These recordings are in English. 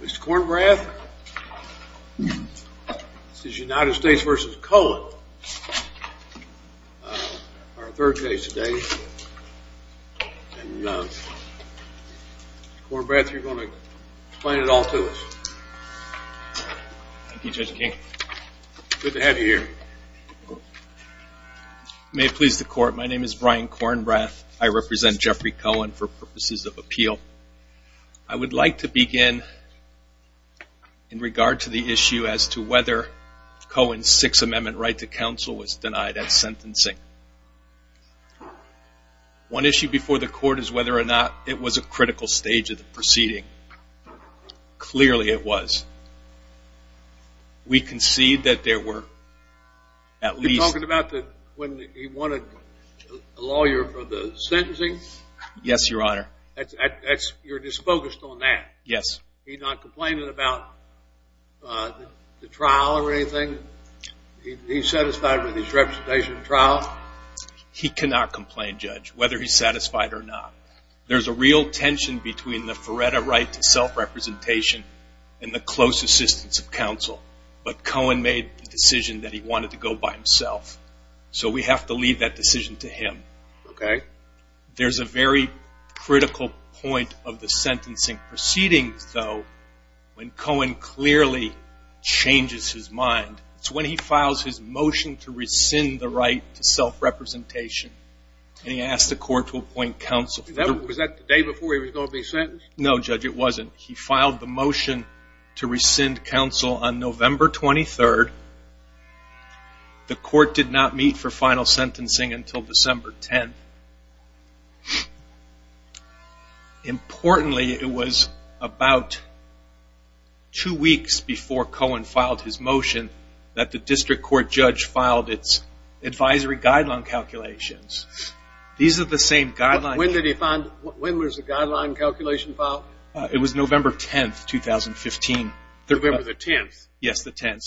Mr. Kornbrath, this is United States v. Cohen, our third case today, and Mr. Kornbrath, you are going to explain it all to us. Thank you, Judge King. Good to have you here. May it please the Court, my name is Brian Kornbrath. I represent Jeffrey Cohen for purposes of appeal. I would like to begin in regard to the issue as to whether Cohen's Sixth Amendment right to counsel was denied at sentencing. One issue before the Court is whether or not it was a critical stage of the proceeding. Clearly it was. We concede that there were at least... You're talking about when he wanted a lawyer for the sentencing? Yes, Your Honor. You're just focused on that? Yes. He's not complaining about the trial or anything? He's satisfied with his representation in trial? He cannot complain, Judge, whether he's satisfied or not. There's a real tension between the Feretta right to self-representation and the close assistance of counsel. But Cohen made the decision that he wanted to go by himself, so we have to leave that decision to him. Okay. There's a very critical point of the sentencing proceedings, though, when Cohen clearly changes his mind. It's when he files his motion to rescind the right to self-representation, and he asks the Court to appoint counsel. Was that the day before he was going to be sentenced? No, Judge, it wasn't. He filed the motion to rescind counsel on November 23rd. The Court did not meet for final sentencing until December 10th. Importantly, it was about two weeks before Cohen filed his motion that the district court judge filed its advisory guideline calculations. These are the same guidelines. When was the guideline calculation filed? It was November 10th, 2015. November the 10th? Yes, the 10th.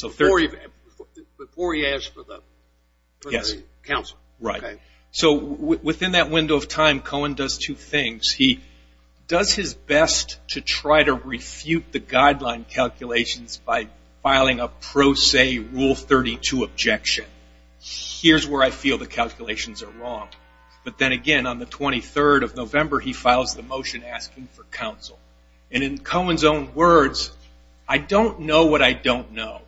Before he asked for the counsel. Right. So within that window of time, Cohen does two things. He does his best to try to refute the guideline calculations by filing a pro se Rule 32 objection. Here's where I feel the calculations are wrong. But then again, on the 23rd of November, he files the motion asking for counsel. And in Cohen's own words, I don't know what I don't know.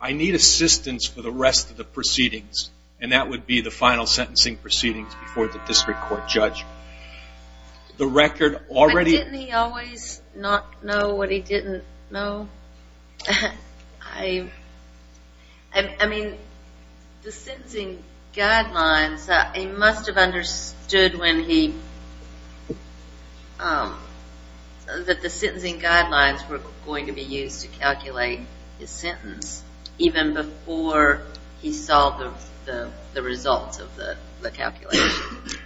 I need assistance for the rest of the proceedings, and that would be the final sentencing proceedings before the district court judge. But didn't he always not know what he didn't know? I mean, the sentencing guidelines, he must have understood that the sentencing guidelines were going to be used to calculate his sentence even before he saw the results of the calculations.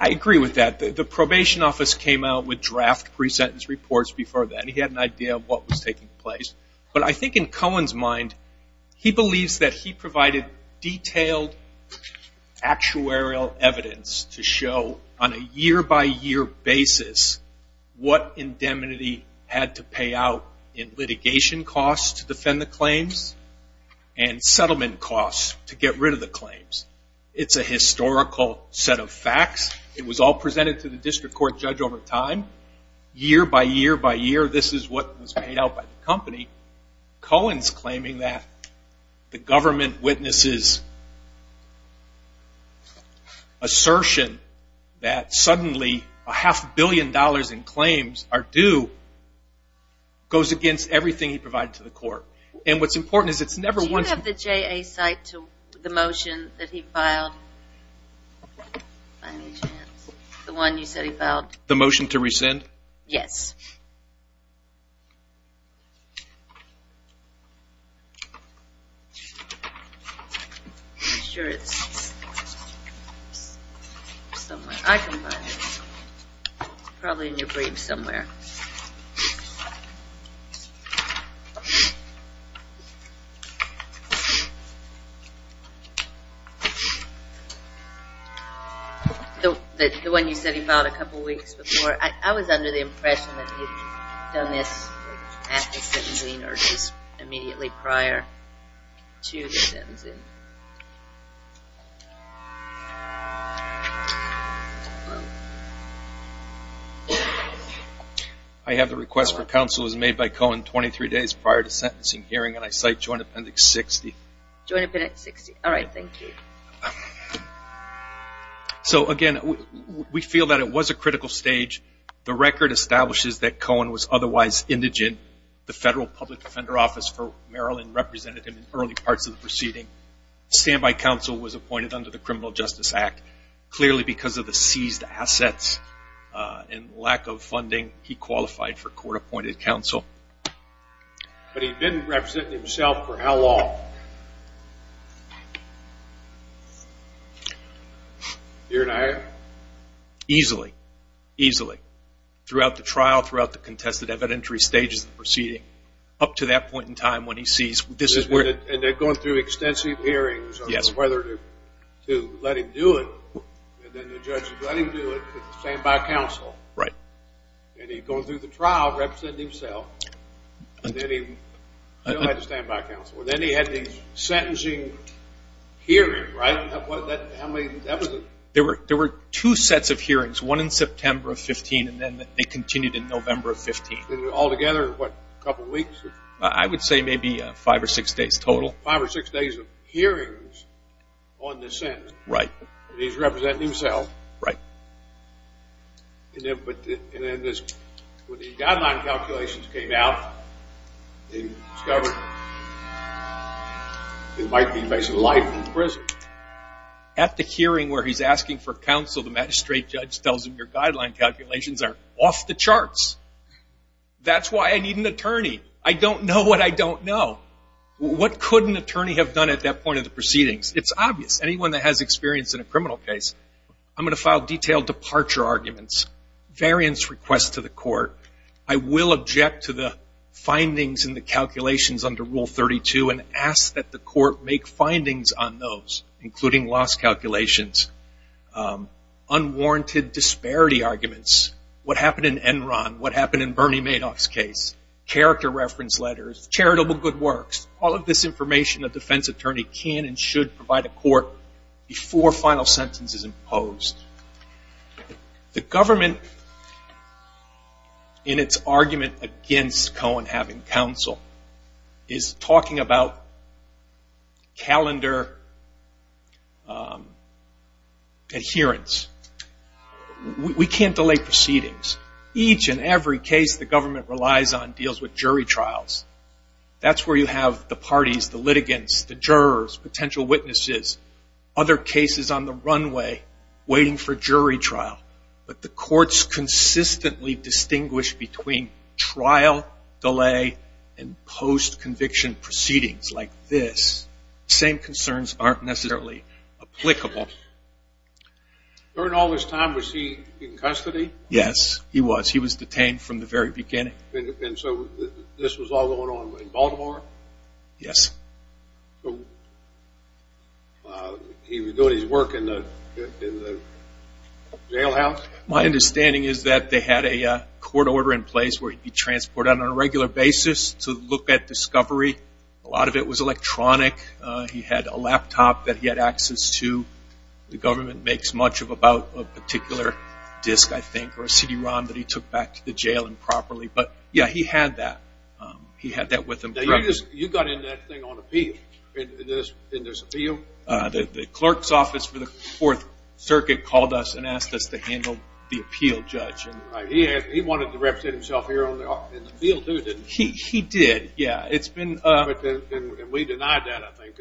I agree with that. The probation office came out with draft pre-sentence reports before then. He had an idea of what was taking place. But I think in Cohen's mind, he believes that he provided detailed actuarial evidence to show on a year-by-year basis what indemnity had to pay out in litigation costs to defend the claims and settlement costs to get rid of the claims. It's a historical set of facts. It was all presented to the district court judge over time. Year by year by year, this is what was paid out by the company. Cohen's claiming that the government witnesses assertion that suddenly a half billion dollars in claims are due goes against everything he provided to the court. And what's important is it's never once... Do you have the JA cite to the motion that he filed? The one you said he filed? The motion to rescind? Yes. I'm sure it's somewhere. I can find it. It's probably in your brief somewhere. The one you said he filed a couple weeks before. I was under the impression that he had done this at the sentencing or just immediately prior to the sentencing. I have the request for counsel as made by Cohen 23 days prior to sentencing hearing and I cite Joint Appendix 60. Joint Appendix 60. All right. Thank you. So again, we feel that it was a critical stage. The record establishes that Cohen was otherwise indigent. The Federal Public Defender Office for Maryland represented him in early parts of the proceeding. Standby counsel was appointed under the Criminal Justice Act. Clearly because of the seized assets and lack of funding, he qualified for court-appointed counsel. But he didn't represent himself for how long? Here and there? Easily. Easily. Throughout the trial, throughout the contested evidentiary stages of the proceeding, up to that point in time when he sees this is where. And they're going through extensive hearings on whether to let him do it. And then the judge is letting him do it with the standby counsel. Right. And he goes through the trial representing himself. And then he had the standby counsel. And then he had the sentencing hearing, right? How many? There were two sets of hearings, one in September of 15 and then they continued in November of 15. Altogether, what, a couple weeks? I would say maybe five or six days total. Five or six days of hearings on this sentence. Right. And he's representing himself. Right. And then when the guideline calculations came out, they discovered he might be facing life in prison. At the hearing where he's asking for counsel, the magistrate judge tells him your guideline calculations are off the charts. That's why I need an attorney. I don't know what I don't know. What could an attorney have done at that point in the proceedings? It's obvious. Anyone that has experience in a criminal case. I'm going to file detailed departure arguments, variance requests to the court. I will object to the findings and the calculations under Rule 32 and ask that the court make findings on those, including loss calculations, unwarranted disparity arguments, what happened in Enron, what happened in Bernie Madoff's case, character reference letters, charitable good works, all of this information a defense attorney can and should provide a court before final sentence is imposed. The government in its argument against Cohen having counsel is talking about calendar adherence. We can't delay proceedings. Each and every case the government relies on deals with jury trials. That's where you have the parties, the litigants, the jurors, potential witnesses, other cases on the runway waiting for jury trial. But the courts consistently distinguish between trial delay and post-conviction proceedings like this. The same concerns aren't necessarily applicable. During all this time was he in custody? Yes, he was. He was detained from the very beginning. And so this was all going on in Baltimore? Yes. So he was doing his work in the jailhouse? My understanding is that they had a court order in place where he'd be transported on a regular basis to look at discovery. A lot of it was electronic. He had a laptop that he had access to. The government makes much of about a particular disc, I think, or a CD-ROM that he took back to the jail improperly. But, yeah, he had that. He had that with him. Now you got into that thing on appeal, in this appeal? The clerk's office for the Fourth Circuit called us and asked us to handle the appeal judge. He wanted to represent himself here in the field, too, didn't he? He did, yeah. And we denied that, I think.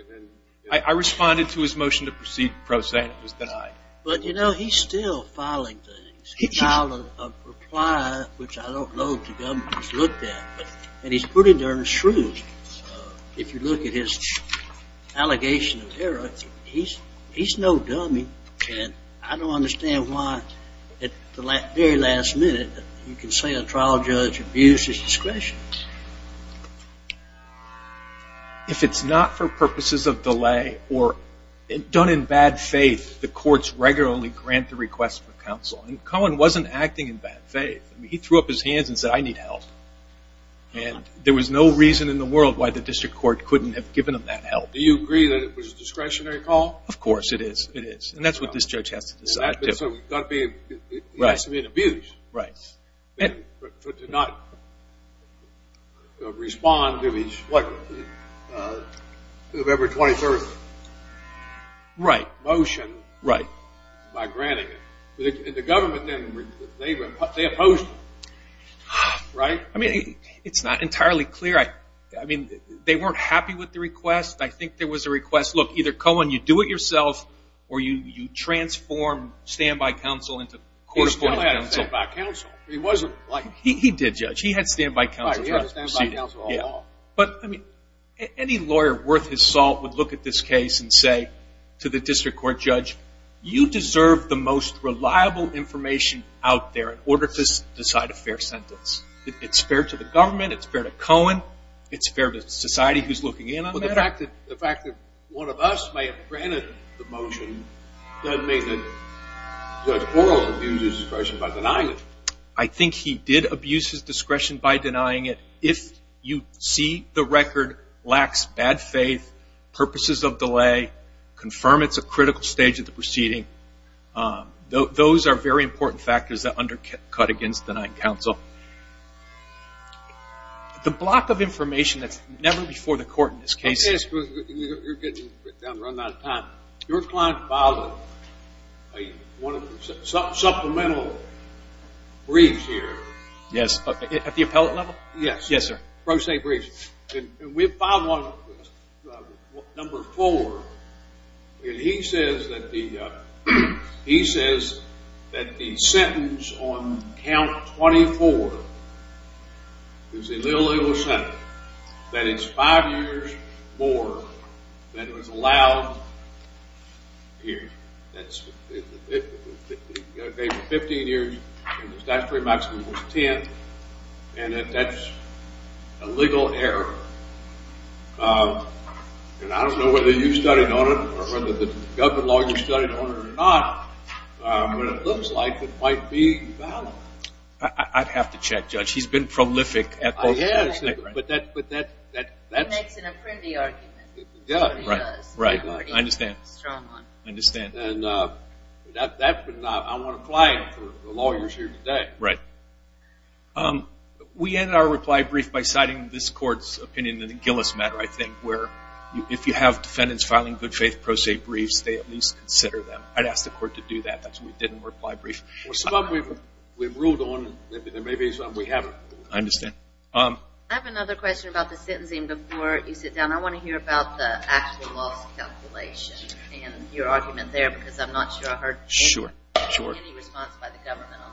I responded to his motion to proceed pro se, and it was denied. But, you know, he's still filing things. He filed a reply, which I don't know if the government has looked at, and he's pretty darn shrewd. If you look at his allegation of error, he's no dummy. And I don't understand why, at the very last minute, you can say a trial judge abused his discretion. If it's not for purposes of delay or done in bad faith, the courts regularly grant the request for counsel. And Cohen wasn't acting in bad faith. He threw up his hands and said, I need help. And there was no reason in the world why the district court couldn't have given him that help. Do you agree that it was a discretionary call? Of course it is. It is. And that's what this judge has to decide. So he has to be abused to not respond to his November 23rd motion by granting it. The government then, they opposed it, right? I mean, it's not entirely clear. I mean, they weren't happy with the request. I think there was a request, look, either, Cohen, you do it yourself, or you transform standby counsel into court-appointed counsel. He still had standby counsel. He did, Judge. He had standby counsel. Right, he had standby counsel all along. But, I mean, any lawyer worth his salt would look at this case and say to the district court judge, you deserve the most reliable information out there in order to decide a fair sentence. It's fair to the government. It's fair to Cohen. It's fair to society who's looking in on that. Well, the fact that one of us may have granted the motion doesn't mean that Judge Borrell abused his discretion by denying it. I think he did abuse his discretion by denying it. If you see the record lacks bad faith, purposes of delay, confirm it's a critical stage of the proceeding, those are very important factors that undercut against denying counsel. The block of information that's never before the court in this case. You're getting down to run out of time. Your client filed a supplemental brief here. Yes, at the appellate level? Yes. Yes, sir. Pro se brief. We filed number four, and he says that the sentence on count 24 is a little over seven, that it's five years more than was allowed here. He gave it 15 years, and the statutory maximum was 10, and that that's a legal error. And I don't know whether you studied on it or whether the government lawyers studied on it or not, but it looks like it might be valid. I'd have to check, Judge. He's been prolific at this. Yes, but that's... He makes an apprentice argument. He does. Right. I understand. And I want a client for the lawyers here today. Right. We ended our reply brief by citing this court's opinion in the Gillis matter, I think, where if you have defendants filing good faith pro se briefs, they at least consider them. I'd ask the court to do that. That's why we didn't reply brief. Well, some of them we've ruled on, and there may be some we haven't. I understand. I have another question about the sentencing before you sit down. I want to hear about the actual loss calculation and your argument there, because I'm not sure I heard any response by the government on that.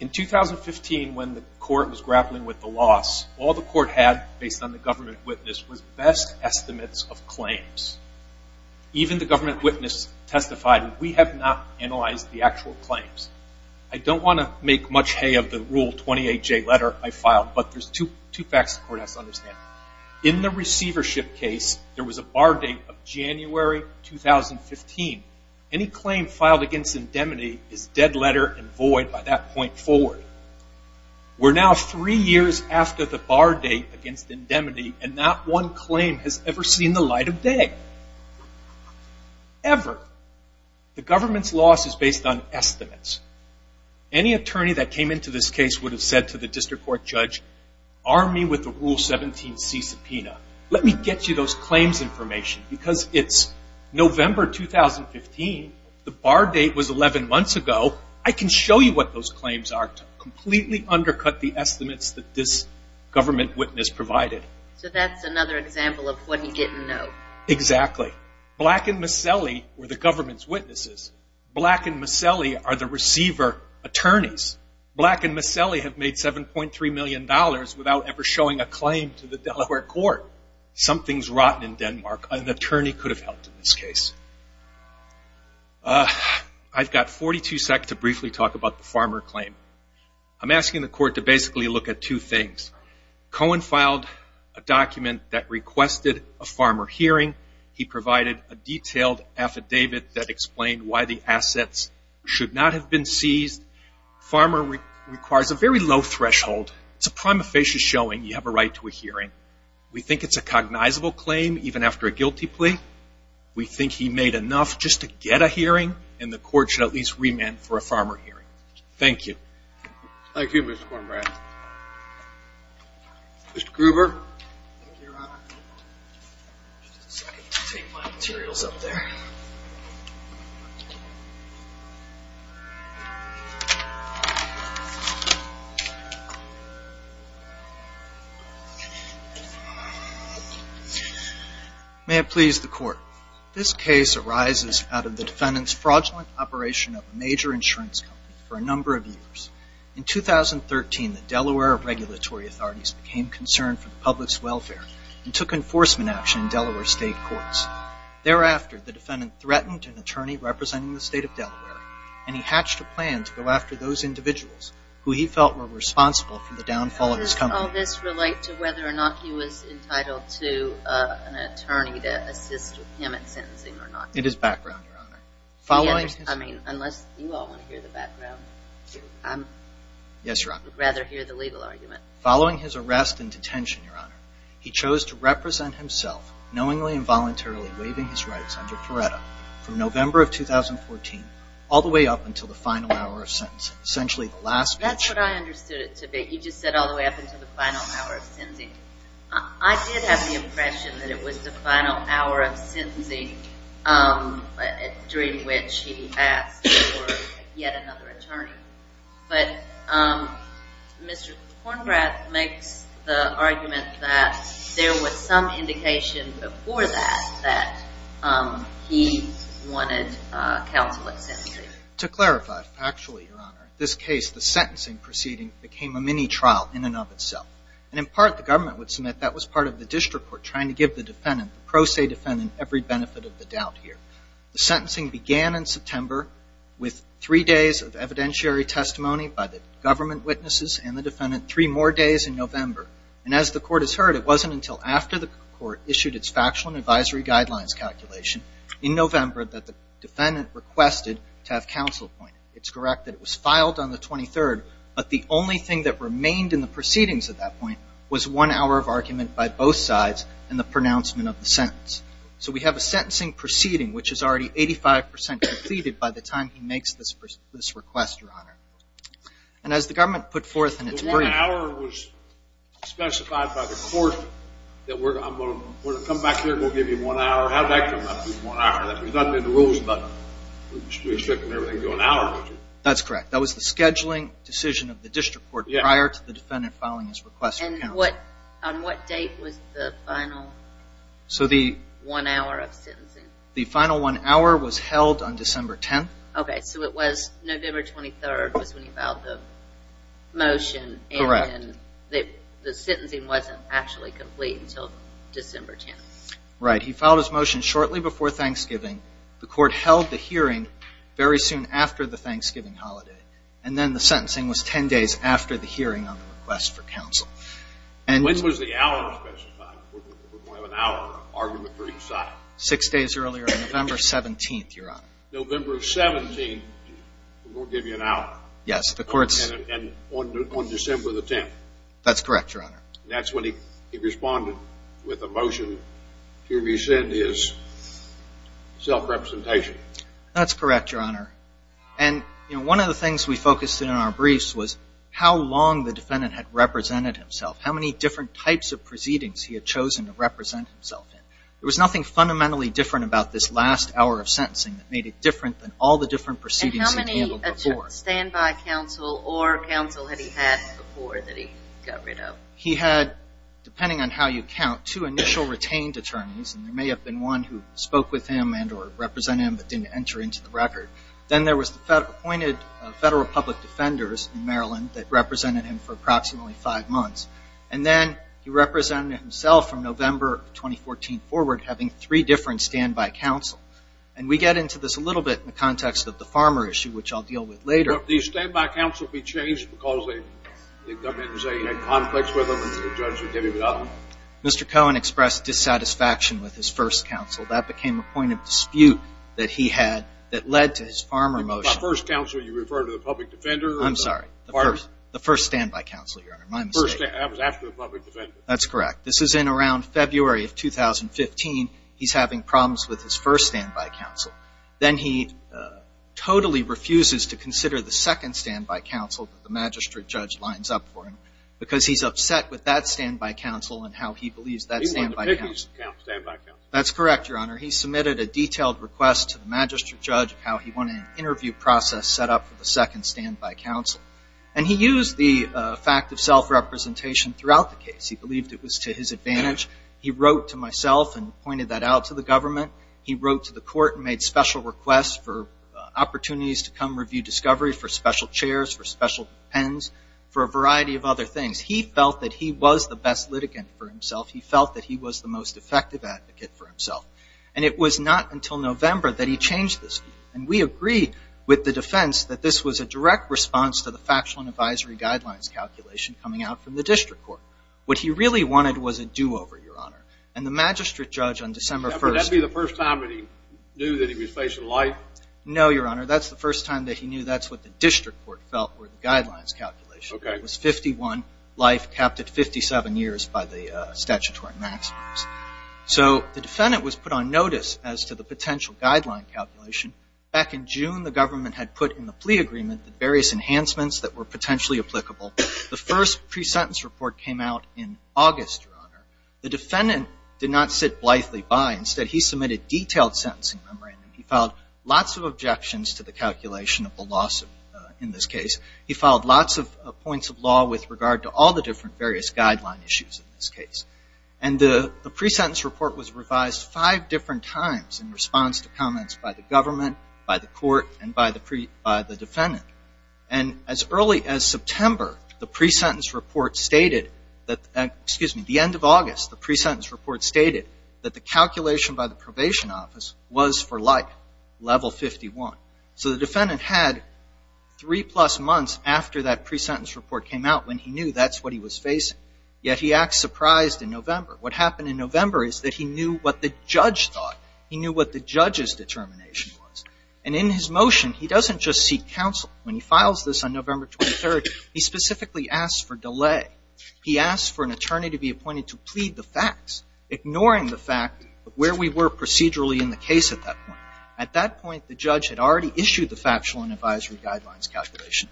In 2015, when the court was grappling with the loss, all the court had based on the government witness was best estimates of claims. Even the government witness testified, and we have not analyzed the actual claims. I don't want to make much hay of the Rule 28J letter I filed, but there's two facts the court has to understand. In the receivership case, there was a bar date of January 2015. Any claim filed against indemnity is dead letter and void by that point forward. We're now three years after the bar date against indemnity, and not one claim has ever seen the light of day, ever. The government's loss is based on estimates. Any attorney that came into this case would have said to the district court judge, arm me with the Rule 17C subpoena. Let me get you those claims information, because it's November 2015. The bar date was 11 months ago. I can show you what those claims are to completely undercut the estimates that this government witness provided. So that's another example of what he didn't know. Exactly. Black and Maselli were the government's witnesses. Black and Maselli are the receiver attorneys. Black and Maselli have made $7.3 million without ever showing a claim to the Delaware court. Something's rotten in Denmark. An attorney could have helped in this case. I've got 42 seconds to briefly talk about the farmer claim. I'm asking the court to basically look at two things. Cohen filed a document that requested a farmer hearing. He provided a detailed affidavit that explained why the assets should not have been seized. Farmer requires a very low threshold. It's a prima facie showing you have a right to a hearing. We think it's a cognizable claim, even after a guilty plea. We think he made enough just to get a hearing, and the court should at least remand for a farmer hearing. Thank you. Thank you, Mr. Kornbrad. Mr. Gruber. Thank you, Your Honor. Just a second to take my materials up there. May it please the court. This case arises out of the defendant's fraudulent operation of a major insurance company for a number of years. In 2013, the Delaware regulatory authorities became concerned for the public's welfare and took enforcement action in Delaware state courts. Thereafter, the defendant threatened an attorney representing the state of Delaware, and he hatched a plan to go after those individuals who he felt were responsible for the downfall of his company. How does all this relate to whether or not he was entitled to an attorney to assist him in sentencing or not? It is background, Your Honor. I mean, unless you all want to hear the background. Yes, Your Honor. I would rather hear the legal argument. Following his arrest and detention, Your Honor, he chose to represent himself knowingly and voluntarily waiving his rights under Coretta from November of 2014 all the way up until the final hour of sentencing, essentially the last speech. That's what I understood it to be. You just said all the way up until the final hour of sentencing. I did have the impression that it was the final hour of sentencing during which he asked for yet another attorney. But Mr. Kornbrath makes the argument that there was some indication before that that he wanted counsel at sentencing. To clarify factually, Your Honor, this case, the sentencing proceeding, became a mini-trial in and of itself. And in part, the government would submit that was part of the district court trying to give the defendant, the pro se defendant, every benefit of the doubt here. The sentencing began in September with three days of evidentiary testimony by the government witnesses and the defendant, three more days in November. And as the court has heard, it wasn't until after the court issued its factual and advisory guidelines calculation in November that the defendant requested to have counsel appointed. It's correct that it was filed on the 23rd. But the only thing that remained in the proceedings at that point was one hour of argument by both sides and the pronouncement of the sentence. So we have a sentencing proceeding which is already 85% completed by the time he makes this request, Your Honor. And as the government put forth in its brief... The one hour was specified by the court that we're going to come back here and we'll give you one hour. There's nothing in the rules about restricting everything to an hour, is there? That's correct. That was the scheduling decision of the district court prior to the defendant filing his request for counsel. And on what date was the final one hour of sentencing? The final one hour was held on December 10th. Okay, so it was November 23rd was when he filed the motion. Correct. And the sentencing wasn't actually complete until December 10th. Right. He filed his motion shortly before Thanksgiving. The court held the hearing very soon after the Thanksgiving holiday. And then the sentencing was 10 days after the hearing on the request for counsel. When was the hour specified? We're going to have an hour of argument for each side. Six days earlier, November 17th, Your Honor. November 17th, we're going to give you an hour. Yes, the court's... And on December the 10th. That's correct, Your Honor. That's when he responded with a motion to rescind his self-representation. That's correct, Your Honor. And, you know, one of the things we focused in our briefs was how long the defendant had represented himself, how many different types of proceedings he had chosen to represent himself in. There was nothing fundamentally different about this last hour of sentencing that made it different than all the different proceedings he'd handled before. And how many standby counsel or counsel had he had before that he got rid of? He had, depending on how you count, two initial retained attorneys, and there may have been one who spoke with him and or represented him but didn't enter into the record. Then there was the appointed federal public defenders in Maryland that represented him for approximately five months. And then he represented himself from November of 2014 forward having three different standby counsel. And we get into this a little bit in the context of the farmer issue, which I'll deal with later. Did the standby counsel be changed because the government was saying he had conflicts with them and the judge had given it up? Mr. Cohen expressed dissatisfaction with his first counsel. That became a point of dispute that he had that led to his farmer motion. By first counsel, you refer to the public defender? I'm sorry, the first standby counsel, Your Honor. My mistake. That was after the public defender. That's correct. This is in around February of 2015. He's having problems with his first standby counsel. Then he totally refuses to consider the second standby counsel that the magistrate judge lines up for him because he's upset with that standby counsel and how he believes that standby counsel. He wanted a biggish standby counsel. That's correct, Your Honor. He submitted a detailed request to the magistrate judge of how he wanted an interview process set up for the second standby counsel. And he used the fact of self-representation throughout the case. He believed it was to his advantage. He wrote to myself and pointed that out to the government. He wrote to the court and made special requests for opportunities to come review discovery for special chairs, for special pens, for a variety of other things. He felt that he was the best litigant for himself. He felt that he was the most effective advocate for himself. And it was not until November that he changed this. And we agree with the defense that this was a direct response to the factual and advisory guidelines calculation coming out from the district court. What he really wanted was a do-over, Your Honor. And the magistrate judge on December 1st. Now, would that be the first time that he knew that he was facing life? No, Your Honor. That's the first time that he knew that's what the district court felt were the guidelines calculation. Okay. It was 51, life capped at 57 years by the statutory maximums. So the defendant was put on notice as to the potential guideline calculation. Back in June, the government had put in the plea agreement the various enhancements that were potentially applicable. The first pre-sentence report came out in August, Your Honor. The defendant did not sit blithely by. Instead, he submitted detailed sentencing memorandum. He filed lots of objections to the calculation of the lawsuit in this case. He filed lots of points of law with regard to all the different various guideline issues in this case. And the pre-sentence report was revised five different times in response to comments by the government, by the court, and by the defendant. And as early as September, the pre-sentence report stated that, excuse me, the end of August, the pre-sentence report stated that the calculation by the probation office was for life, level 51. So the defendant had three-plus months after that pre-sentence report came out when he knew that's what he was facing. Yet he acts surprised in November. What happened in November is that he knew what the judge thought. He knew what the judge's determination was. And in his motion, he doesn't just seek counsel. When he files this on November 23rd, he specifically asks for delay. He asks for an attorney to be appointed to plead the facts, ignoring the fact of where we were procedurally in the case at that point. At that point, the judge had already issued the factual and advisory guidelines calculation.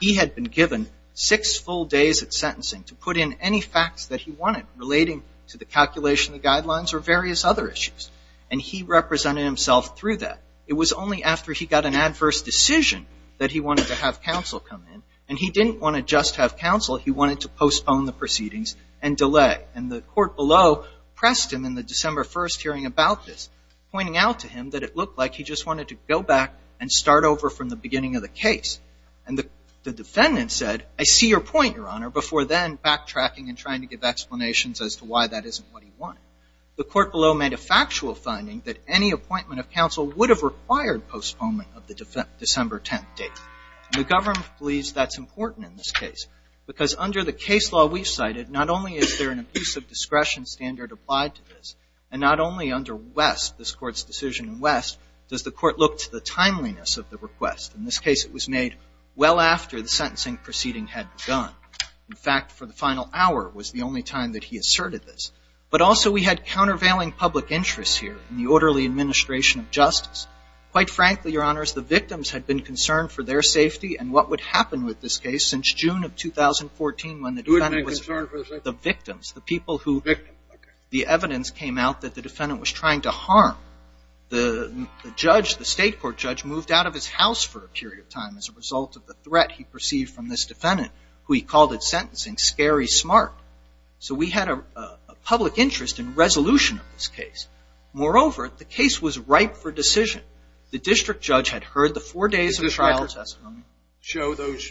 He had been given six full days of sentencing to put in any facts that he wanted, relating to the calculation of the guidelines or various other issues. And he represented himself through that. It was only after he got an adverse decision that he wanted to have counsel come in. And he didn't want to just have counsel. He wanted to postpone the proceedings and delay. And the court below pressed him in the December 1st hearing about this, pointing out to him that it looked like he just wanted to go back and start over from the beginning of the case. And the defendant said, I see your point, Your Honor, before then backtracking and trying to give explanations as to why that isn't what he wanted. The court below made a factual finding that any appointment of counsel would have required postponement of the December 10th date. And the government believes that's important in this case. Because under the case law we've cited, not only is there an abuse of discretion standard applied to this, and not only under West, this Court's decision in West, does the court look to the timeliness of the request. In this case it was made well after the sentencing proceeding had begun. In fact, for the final hour was the only time that he asserted this. But also we had countervailing public interests here in the orderly administration of justice. Quite frankly, Your Honors, the victims had been concerned for their safety. And what would happen with this case since June of 2014 when the defendant was the victims, the people who the evidence came out that the defendant was trying to harm. The judge, the state court judge, moved out of his house for a period of time as a result of the threat he perceived from this defendant, who he called at sentencing, scary smart. So we had a public interest in resolution of this case. Moreover, the case was ripe for decision. The district judge had heard the four days of trial testimony. Did this record show those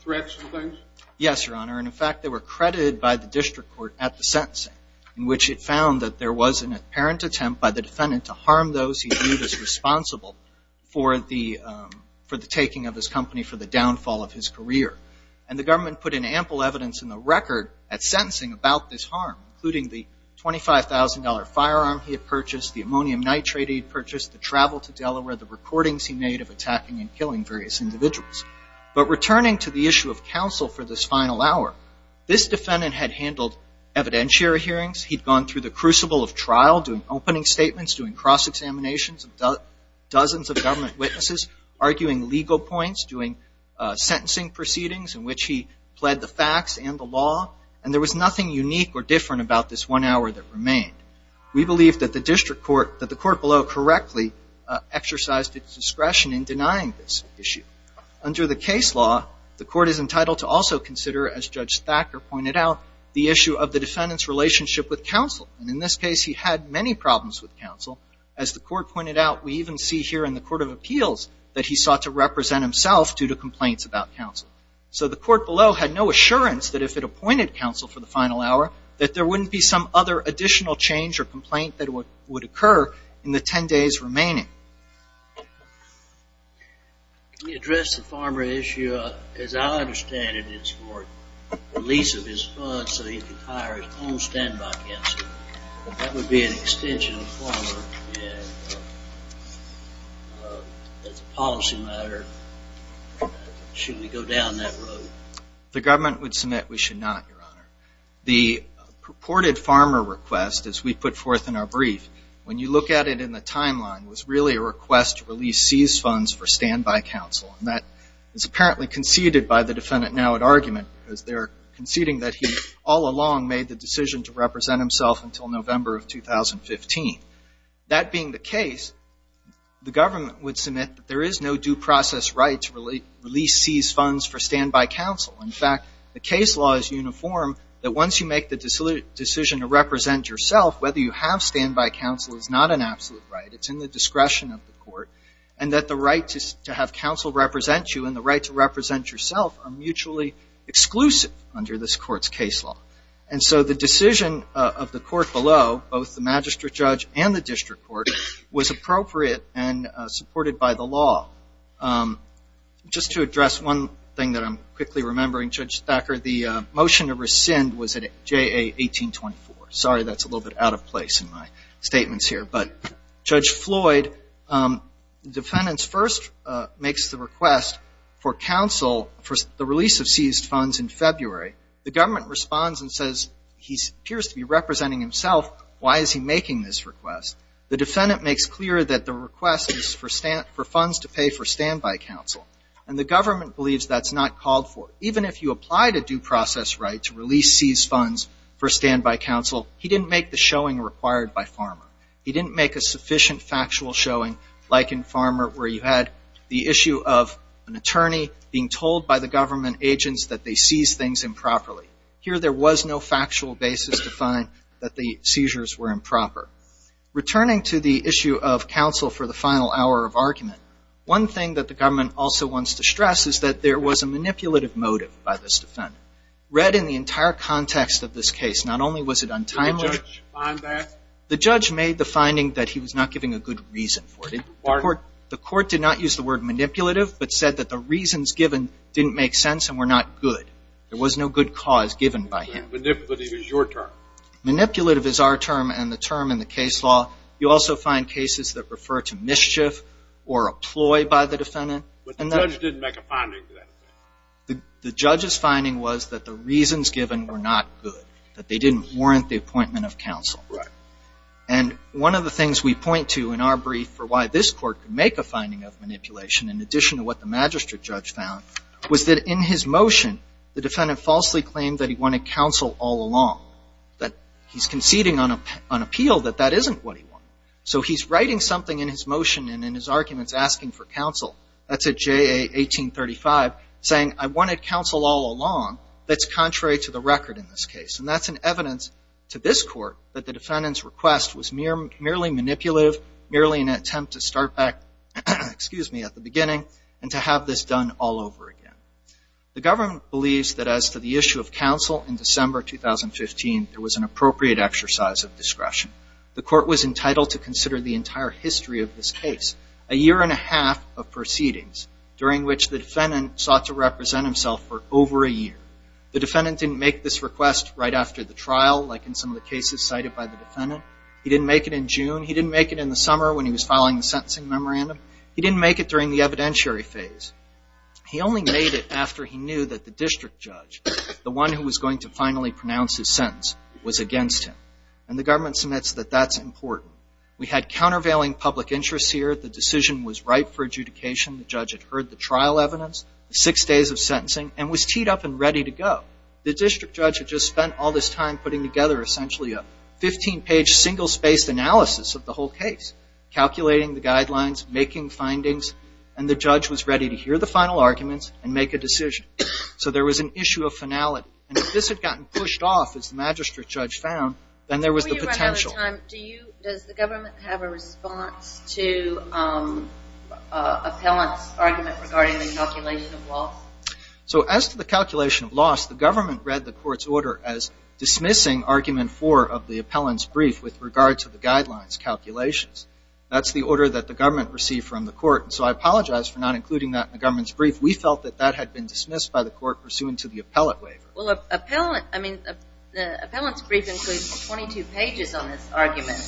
threats and things? Yes, Your Honor. In fact, they were credited by the district court at the sentencing, in which it found that there was an apparent attempt by the defendant to harm those he viewed as responsible for the taking of his company, for the downfall of his career. And the government put in ample evidence in the record at sentencing about this harm, including the $25,000 firearm he had purchased, the ammonium nitrate he had purchased, the travel to Delaware, the recordings he made of attacking and killing various individuals. But returning to the issue of counsel for this final hour, this defendant had handled evidentiary hearings. He'd gone through the crucible of trial, doing opening statements, doing cross-examinations of dozens of government witnesses, arguing legal points, doing sentencing proceedings in which he pled the facts and the law. And there was nothing unique or different about this one hour that remained. We believe that the district court, that the court below correctly exercised its discretion in denying this issue. Under the case law, the court is entitled to also consider, as Judge Thacker pointed out, the issue of the defendant's relationship with counsel. And in this case, he had many problems with counsel. As the court pointed out, we even see here in the Court of Appeals that he sought to represent himself due to complaints about counsel. So the court below had no assurance that if it appointed counsel for the final hour, that there wouldn't be some other additional change or complaint that would occur in the 10 days remaining. Can you address the farmer issue? As I understand it, it's for release of his funds so he can hire his own standby counsel. That would be an extension of the policy matter. Should we go down that road? The government would submit we should not, Your Honor. The purported farmer request, as we put forth in our brief, when you look at it in the timeline, was really a request to release seized funds for standby counsel. And that is apparently conceded by the defendant now at argument, because they're conceding that he all along made the decision to represent himself until November of 2015. That being the case, the government would submit that there is no due process right to release seized funds for standby counsel. In fact, the case law is uniform that once you make the decision to represent yourself, whether you have standby counsel is not an absolute right. It's in the discretion of the court. And that the right to have counsel represent you and the right to represent yourself are mutually exclusive under this court's case law. And so the decision of the court below, both the magistrate judge and the district court, was appropriate and supported by the law. Just to address one thing that I'm quickly remembering, Judge Thacker, the motion to rescind was at JA 1824. Sorry, that's a little bit out of place in my statements here. But Judge Floyd, the defendant first makes the request for counsel for the release of seized funds in February. The government responds and says he appears to be representing himself. Why is he making this request? The defendant makes clear that the request is for funds to pay for standby counsel. And the government believes that's not called for. Even if you applied a due process right to release seized funds for standby counsel, he didn't make the showing required by Pharma. He didn't make a sufficient factual showing like in Pharma where you had the issue of an attorney being told by the government agents that they seized things improperly. Here there was no factual basis to find that the seizures were improper. Returning to the issue of counsel for the final hour of argument, one thing that the government also wants to stress is that there was a manipulative motive by this defendant. Read in the entire context of this case, not only was it untimely. Did the judge find that? The judge made the finding that he was not giving a good reason for it. The court did not use the word manipulative but said that the reasons given didn't make sense and were not good. There was no good cause given by him. Manipulative is your term. Manipulative is our term and the term in the case law. You also find cases that refer to mischief or a ploy by the defendant. But the judge didn't make a finding. The judge's finding was that the reasons given were not good, that they didn't warrant the appointment of counsel. Right. And one of the things we point to in our brief for why this court could make a finding of manipulation in addition to what the magistrate judge found was that in his motion the defendant falsely claimed that he wanted counsel all along, that he's conceding on appeal that that isn't what he wanted. So he's writing something in his motion and in his arguments asking for counsel. That's at JA 1835, saying I wanted counsel all along. That's contrary to the record in this case. And that's an evidence to this court that the defendant's request was merely manipulative, merely an attempt to start back, excuse me, at the beginning and to have this done all over again. The government believes that as to the issue of counsel in December 2015, there was an appropriate exercise of discretion. The court was entitled to consider the entire history of this case, a year and a half of proceedings, during which the defendant sought to represent himself for over a year. The defendant didn't make this request right after the trial, like in some of the cases cited by the defendant. He didn't make it in June. He didn't make it in the summer when he was filing the sentencing memorandum. He didn't make it during the evidentiary phase. He only made it after he knew that the district judge, the one who was going to finally pronounce his sentence, was against him. And the government submits that that's important. We had countervailing public interests here. The decision was right for adjudication. The judge had heard the trial evidence, six days of sentencing, and was teed up and ready to go. The district judge had just spent all this time putting together essentially a 15-page single-spaced analysis of the whole case, calculating the guidelines, making findings. And the judge was ready to hear the final arguments and make a decision. So there was an issue of finality. And if this had gotten pushed off, as the magistrate judge found, then there was the potential. Does the government have a response to appellant's argument regarding the calculation of loss? So as to the calculation of loss, the government read the court's order as dismissing argument four of the appellant's brief with regard to the guidelines calculations. That's the order that the government received from the court. So I apologize for not including that in the government's brief. We felt that that had been dismissed by the court pursuant to the appellant waiver. Well, appellant's brief includes 22 pages on this argument.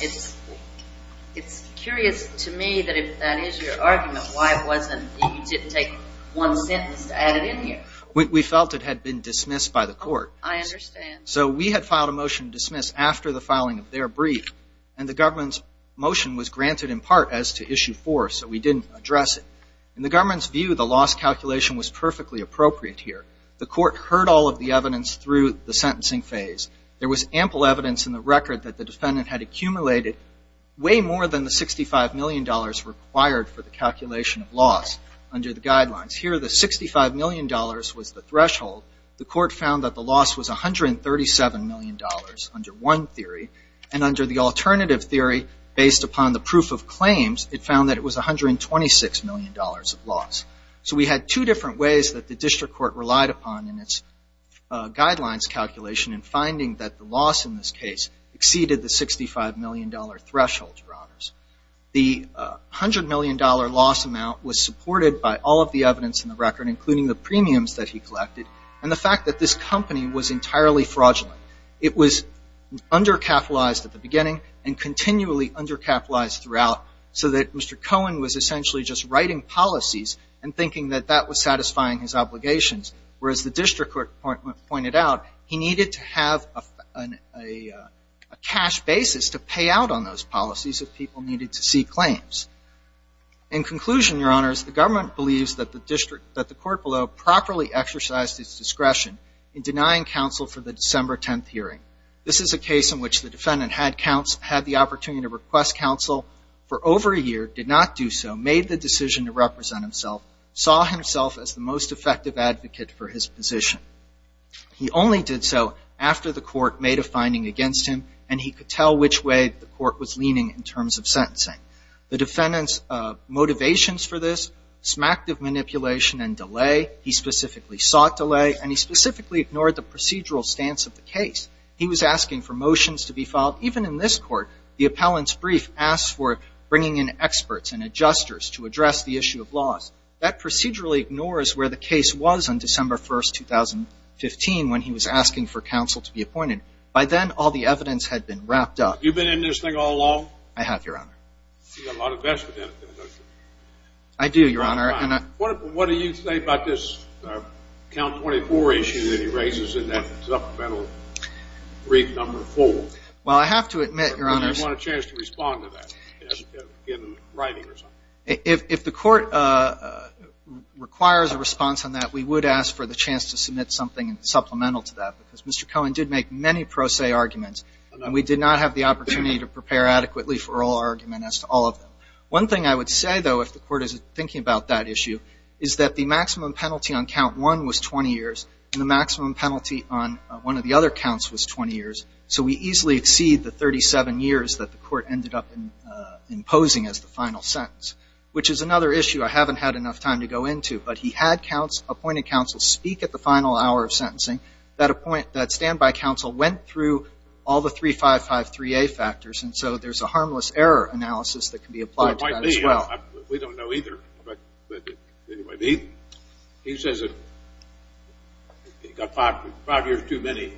It's curious to me that if that is your argument, why it wasn't that you didn't take one sentence to add it in here. We felt it had been dismissed by the court. I understand. So we had filed a motion to dismiss after the filing of their brief, and the government's motion was granted in part as to issue four, so we didn't address it. In the government's view, the loss calculation was perfectly appropriate here. The court heard all of the evidence through the sentencing phase. There was ample evidence in the record that the defendant had accumulated way more than the $65 million required for the calculation of loss under the guidelines. Here, the $65 million was the threshold. The court found that the loss was $137 million under one theory, and under the alternative theory based upon the proof of claims, it found that it was $126 million of loss. So we had two different ways that the district court relied upon in its guidelines calculation in finding that the loss in this case exceeded the $65 million threshold for honors. The $100 million loss amount was supported by all of the evidence in the record, including the premiums that he collected and the fact that this company was entirely fraudulent. It was undercapitalized at the beginning and continually undercapitalized throughout so that Mr. Cohen was essentially just writing policies and thinking that that was satisfying his obligations, whereas the district court pointed out he needed to have a cash basis to pay out on those policies if people needed to see claims. In conclusion, Your Honors, the government believes that the court below properly exercised its discretion in denying counsel for the December 10th hearing. This is a case in which the defendant had the opportunity to request counsel for over a year, did not do so, made the decision to represent himself, saw himself as the most effective advocate for his position. He only did so after the court made a finding against him, and he could tell which way the court was leaning in terms of sentencing. The defendant's motivations for this smacked of manipulation and delay. He specifically sought delay, and he specifically ignored the procedural stance of the case. He was asking for motions to be filed. Even in this court, the appellant's brief asked for bringing in experts and adjusters to address the issue of loss. That procedurally ignores where the case was on December 1st, 2015, when he was asking for counsel to be appointed. By then, all the evidence had been wrapped up. You've been in this thing all along? I have, Your Honor. You've got a lot of investment in it, don't you? I do, Your Honor. What do you say about this count 24 issue that he raises in that supplemental brief number 4? Well, I have to admit, Your Honors. Do you want a chance to respond to that in writing or something? If the court requires a response on that, we would ask for the chance to submit something supplemental to that, because Mr. Cohen did make many pro se arguments, and we did not have the opportunity to prepare adequately for all argument as to all of them. One thing I would say, though, if the court is thinking about that issue, is that the maximum penalty on count 1 was 20 years, and the maximum penalty on one of the other counts was 20 years, so we easily exceed the 37 years that the court ended up imposing as the final sentence, which is another issue I haven't had enough time to go into. But he had appointed counsel speak at the final hour of sentencing. That stand-by counsel went through all the 355-3A factors, and so there's a harmless error analysis that can be applied to that as well. We don't know either. He says that he got five years too many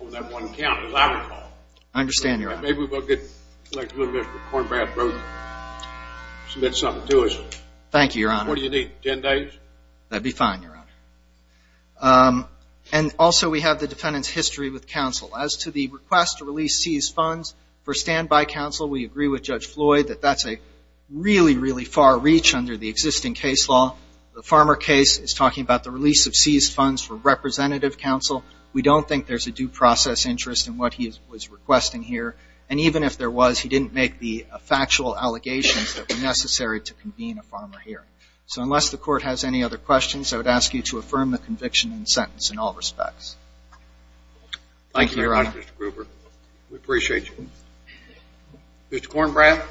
on that one count, as I recall. I understand, Your Honor. Maybe we'll get Mr. Kornbrad to submit something to us. Thank you, Your Honor. What do you need, 10 days? That would be fine, Your Honor. And also we have the defendant's history with counsel. As to the request to release seized funds for stand-by counsel, we agree with Judge Floyd that that's a really, really far reach under the existing case law. The Farmer case is talking about the release of seized funds for representative counsel. We don't think there's a due process interest in what he was requesting here, and even if there was, he didn't make the factual allegations that were necessary to convene a Farmer hearing. So unless the Court has any other questions, I would ask you to affirm the conviction and sentence in all respects. Thank you, Your Honor. Thank you, Mr. Gruber. We appreciate you. Mr. Kornbrad?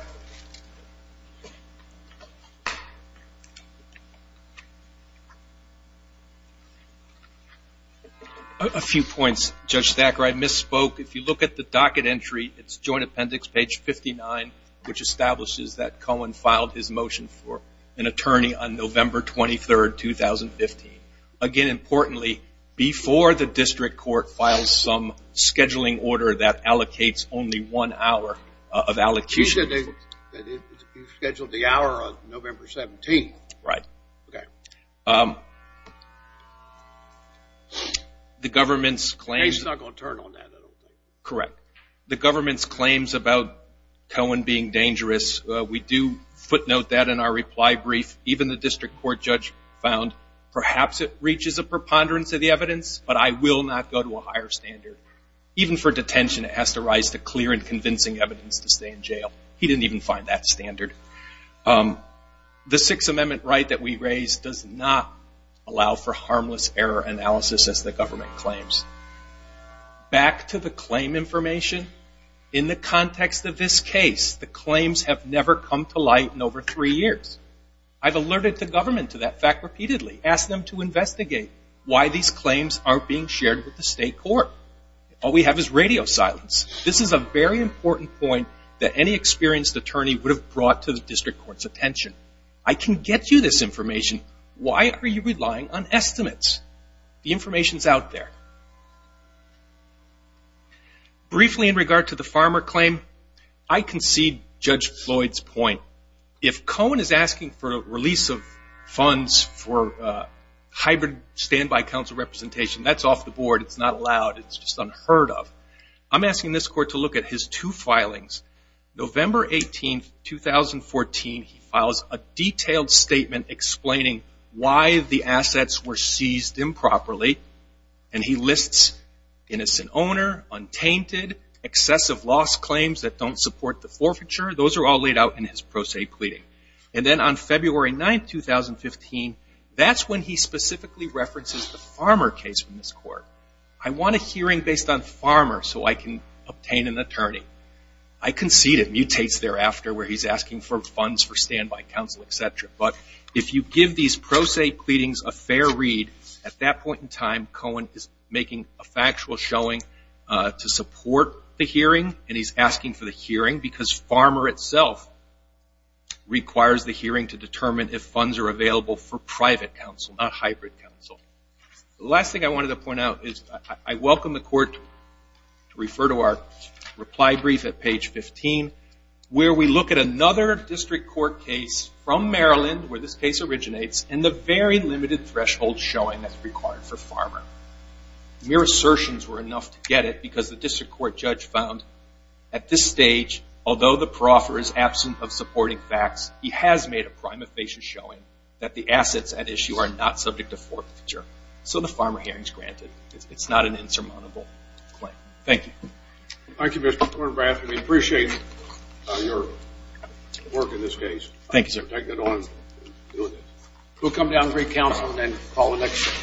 A few points, Judge Thacker. I misspoke. If you look at the docket entry, it's Joint Appendix, page 59, which establishes that Cohen filed his motion for an attorney on November 23rd, 2015. Again, importantly, before the district court files some scheduling order that allocates only one hour of allocutions. You said you scheduled the hour on November 17th. Right. The government's claims... He's not going to turn on that, I don't think. Correct. The government's claims about Cohen being dangerous, we do footnote that in our reply brief. Even the district court judge found, perhaps it reaches a preponderance of the evidence, but I will not go to a higher standard. Even for detention, it has to rise to clear and convincing evidence to stay in jail. He didn't even find that standard. The Sixth Amendment right that we raised does not allow for harmless error analysis, as the government claims. Back to the claim information. In the context of this case, the claims have never come to light in over three years. I've alerted the government to that fact repeatedly, asked them to investigate why these claims aren't being shared with the state court. All we have is radio silence. This is a very important point that any experienced attorney would have brought to the district court's attention. Why are you relying on estimates? The information's out there. Briefly in regard to the farmer claim, I concede Judge Floyd's point. If Cohen is asking for a release of funds for hybrid standby council representation, that's off the board. It's not allowed. It's just unheard of. I'm asking this court to look at his two filings. November 18, 2014, he files a detailed statement explaining why the assets were seized improperly, and he lists innocent owner, untainted, excessive loss claims that don't support the forfeiture. Those are all laid out in his pro se pleading. And then on February 9, 2015, that's when he specifically references the farmer case in this court. I want a hearing based on farmer so I can obtain an attorney. I concede it mutates thereafter where he's asking for funds for standby council, et cetera. But if you give these pro se pleadings a fair read, at that point in time, Cohen is making a factual showing to support the hearing, and he's asking for the hearing, because farmer itself requires the hearing to determine if funds are available for private council, not hybrid council. The last thing I wanted to point out is I welcome the court to refer to our reply brief at page 15, where we look at another district court case from Maryland where this case originates and the very limited threshold showing that's required for farmer. Mere assertions were enough to get it because the district court judge found at this stage, although the proffer is absent of supporting facts, he has made a prime facious showing that the assets at issue are not subject to forfeiture. So the farmer hearing is granted. It's not an insurmountable claim. Thank you. Thank you, Mr. Kornbrath. We appreciate your work in this case. Thank you, sir. Take it on. We'll come down and bring counsel and then call the next.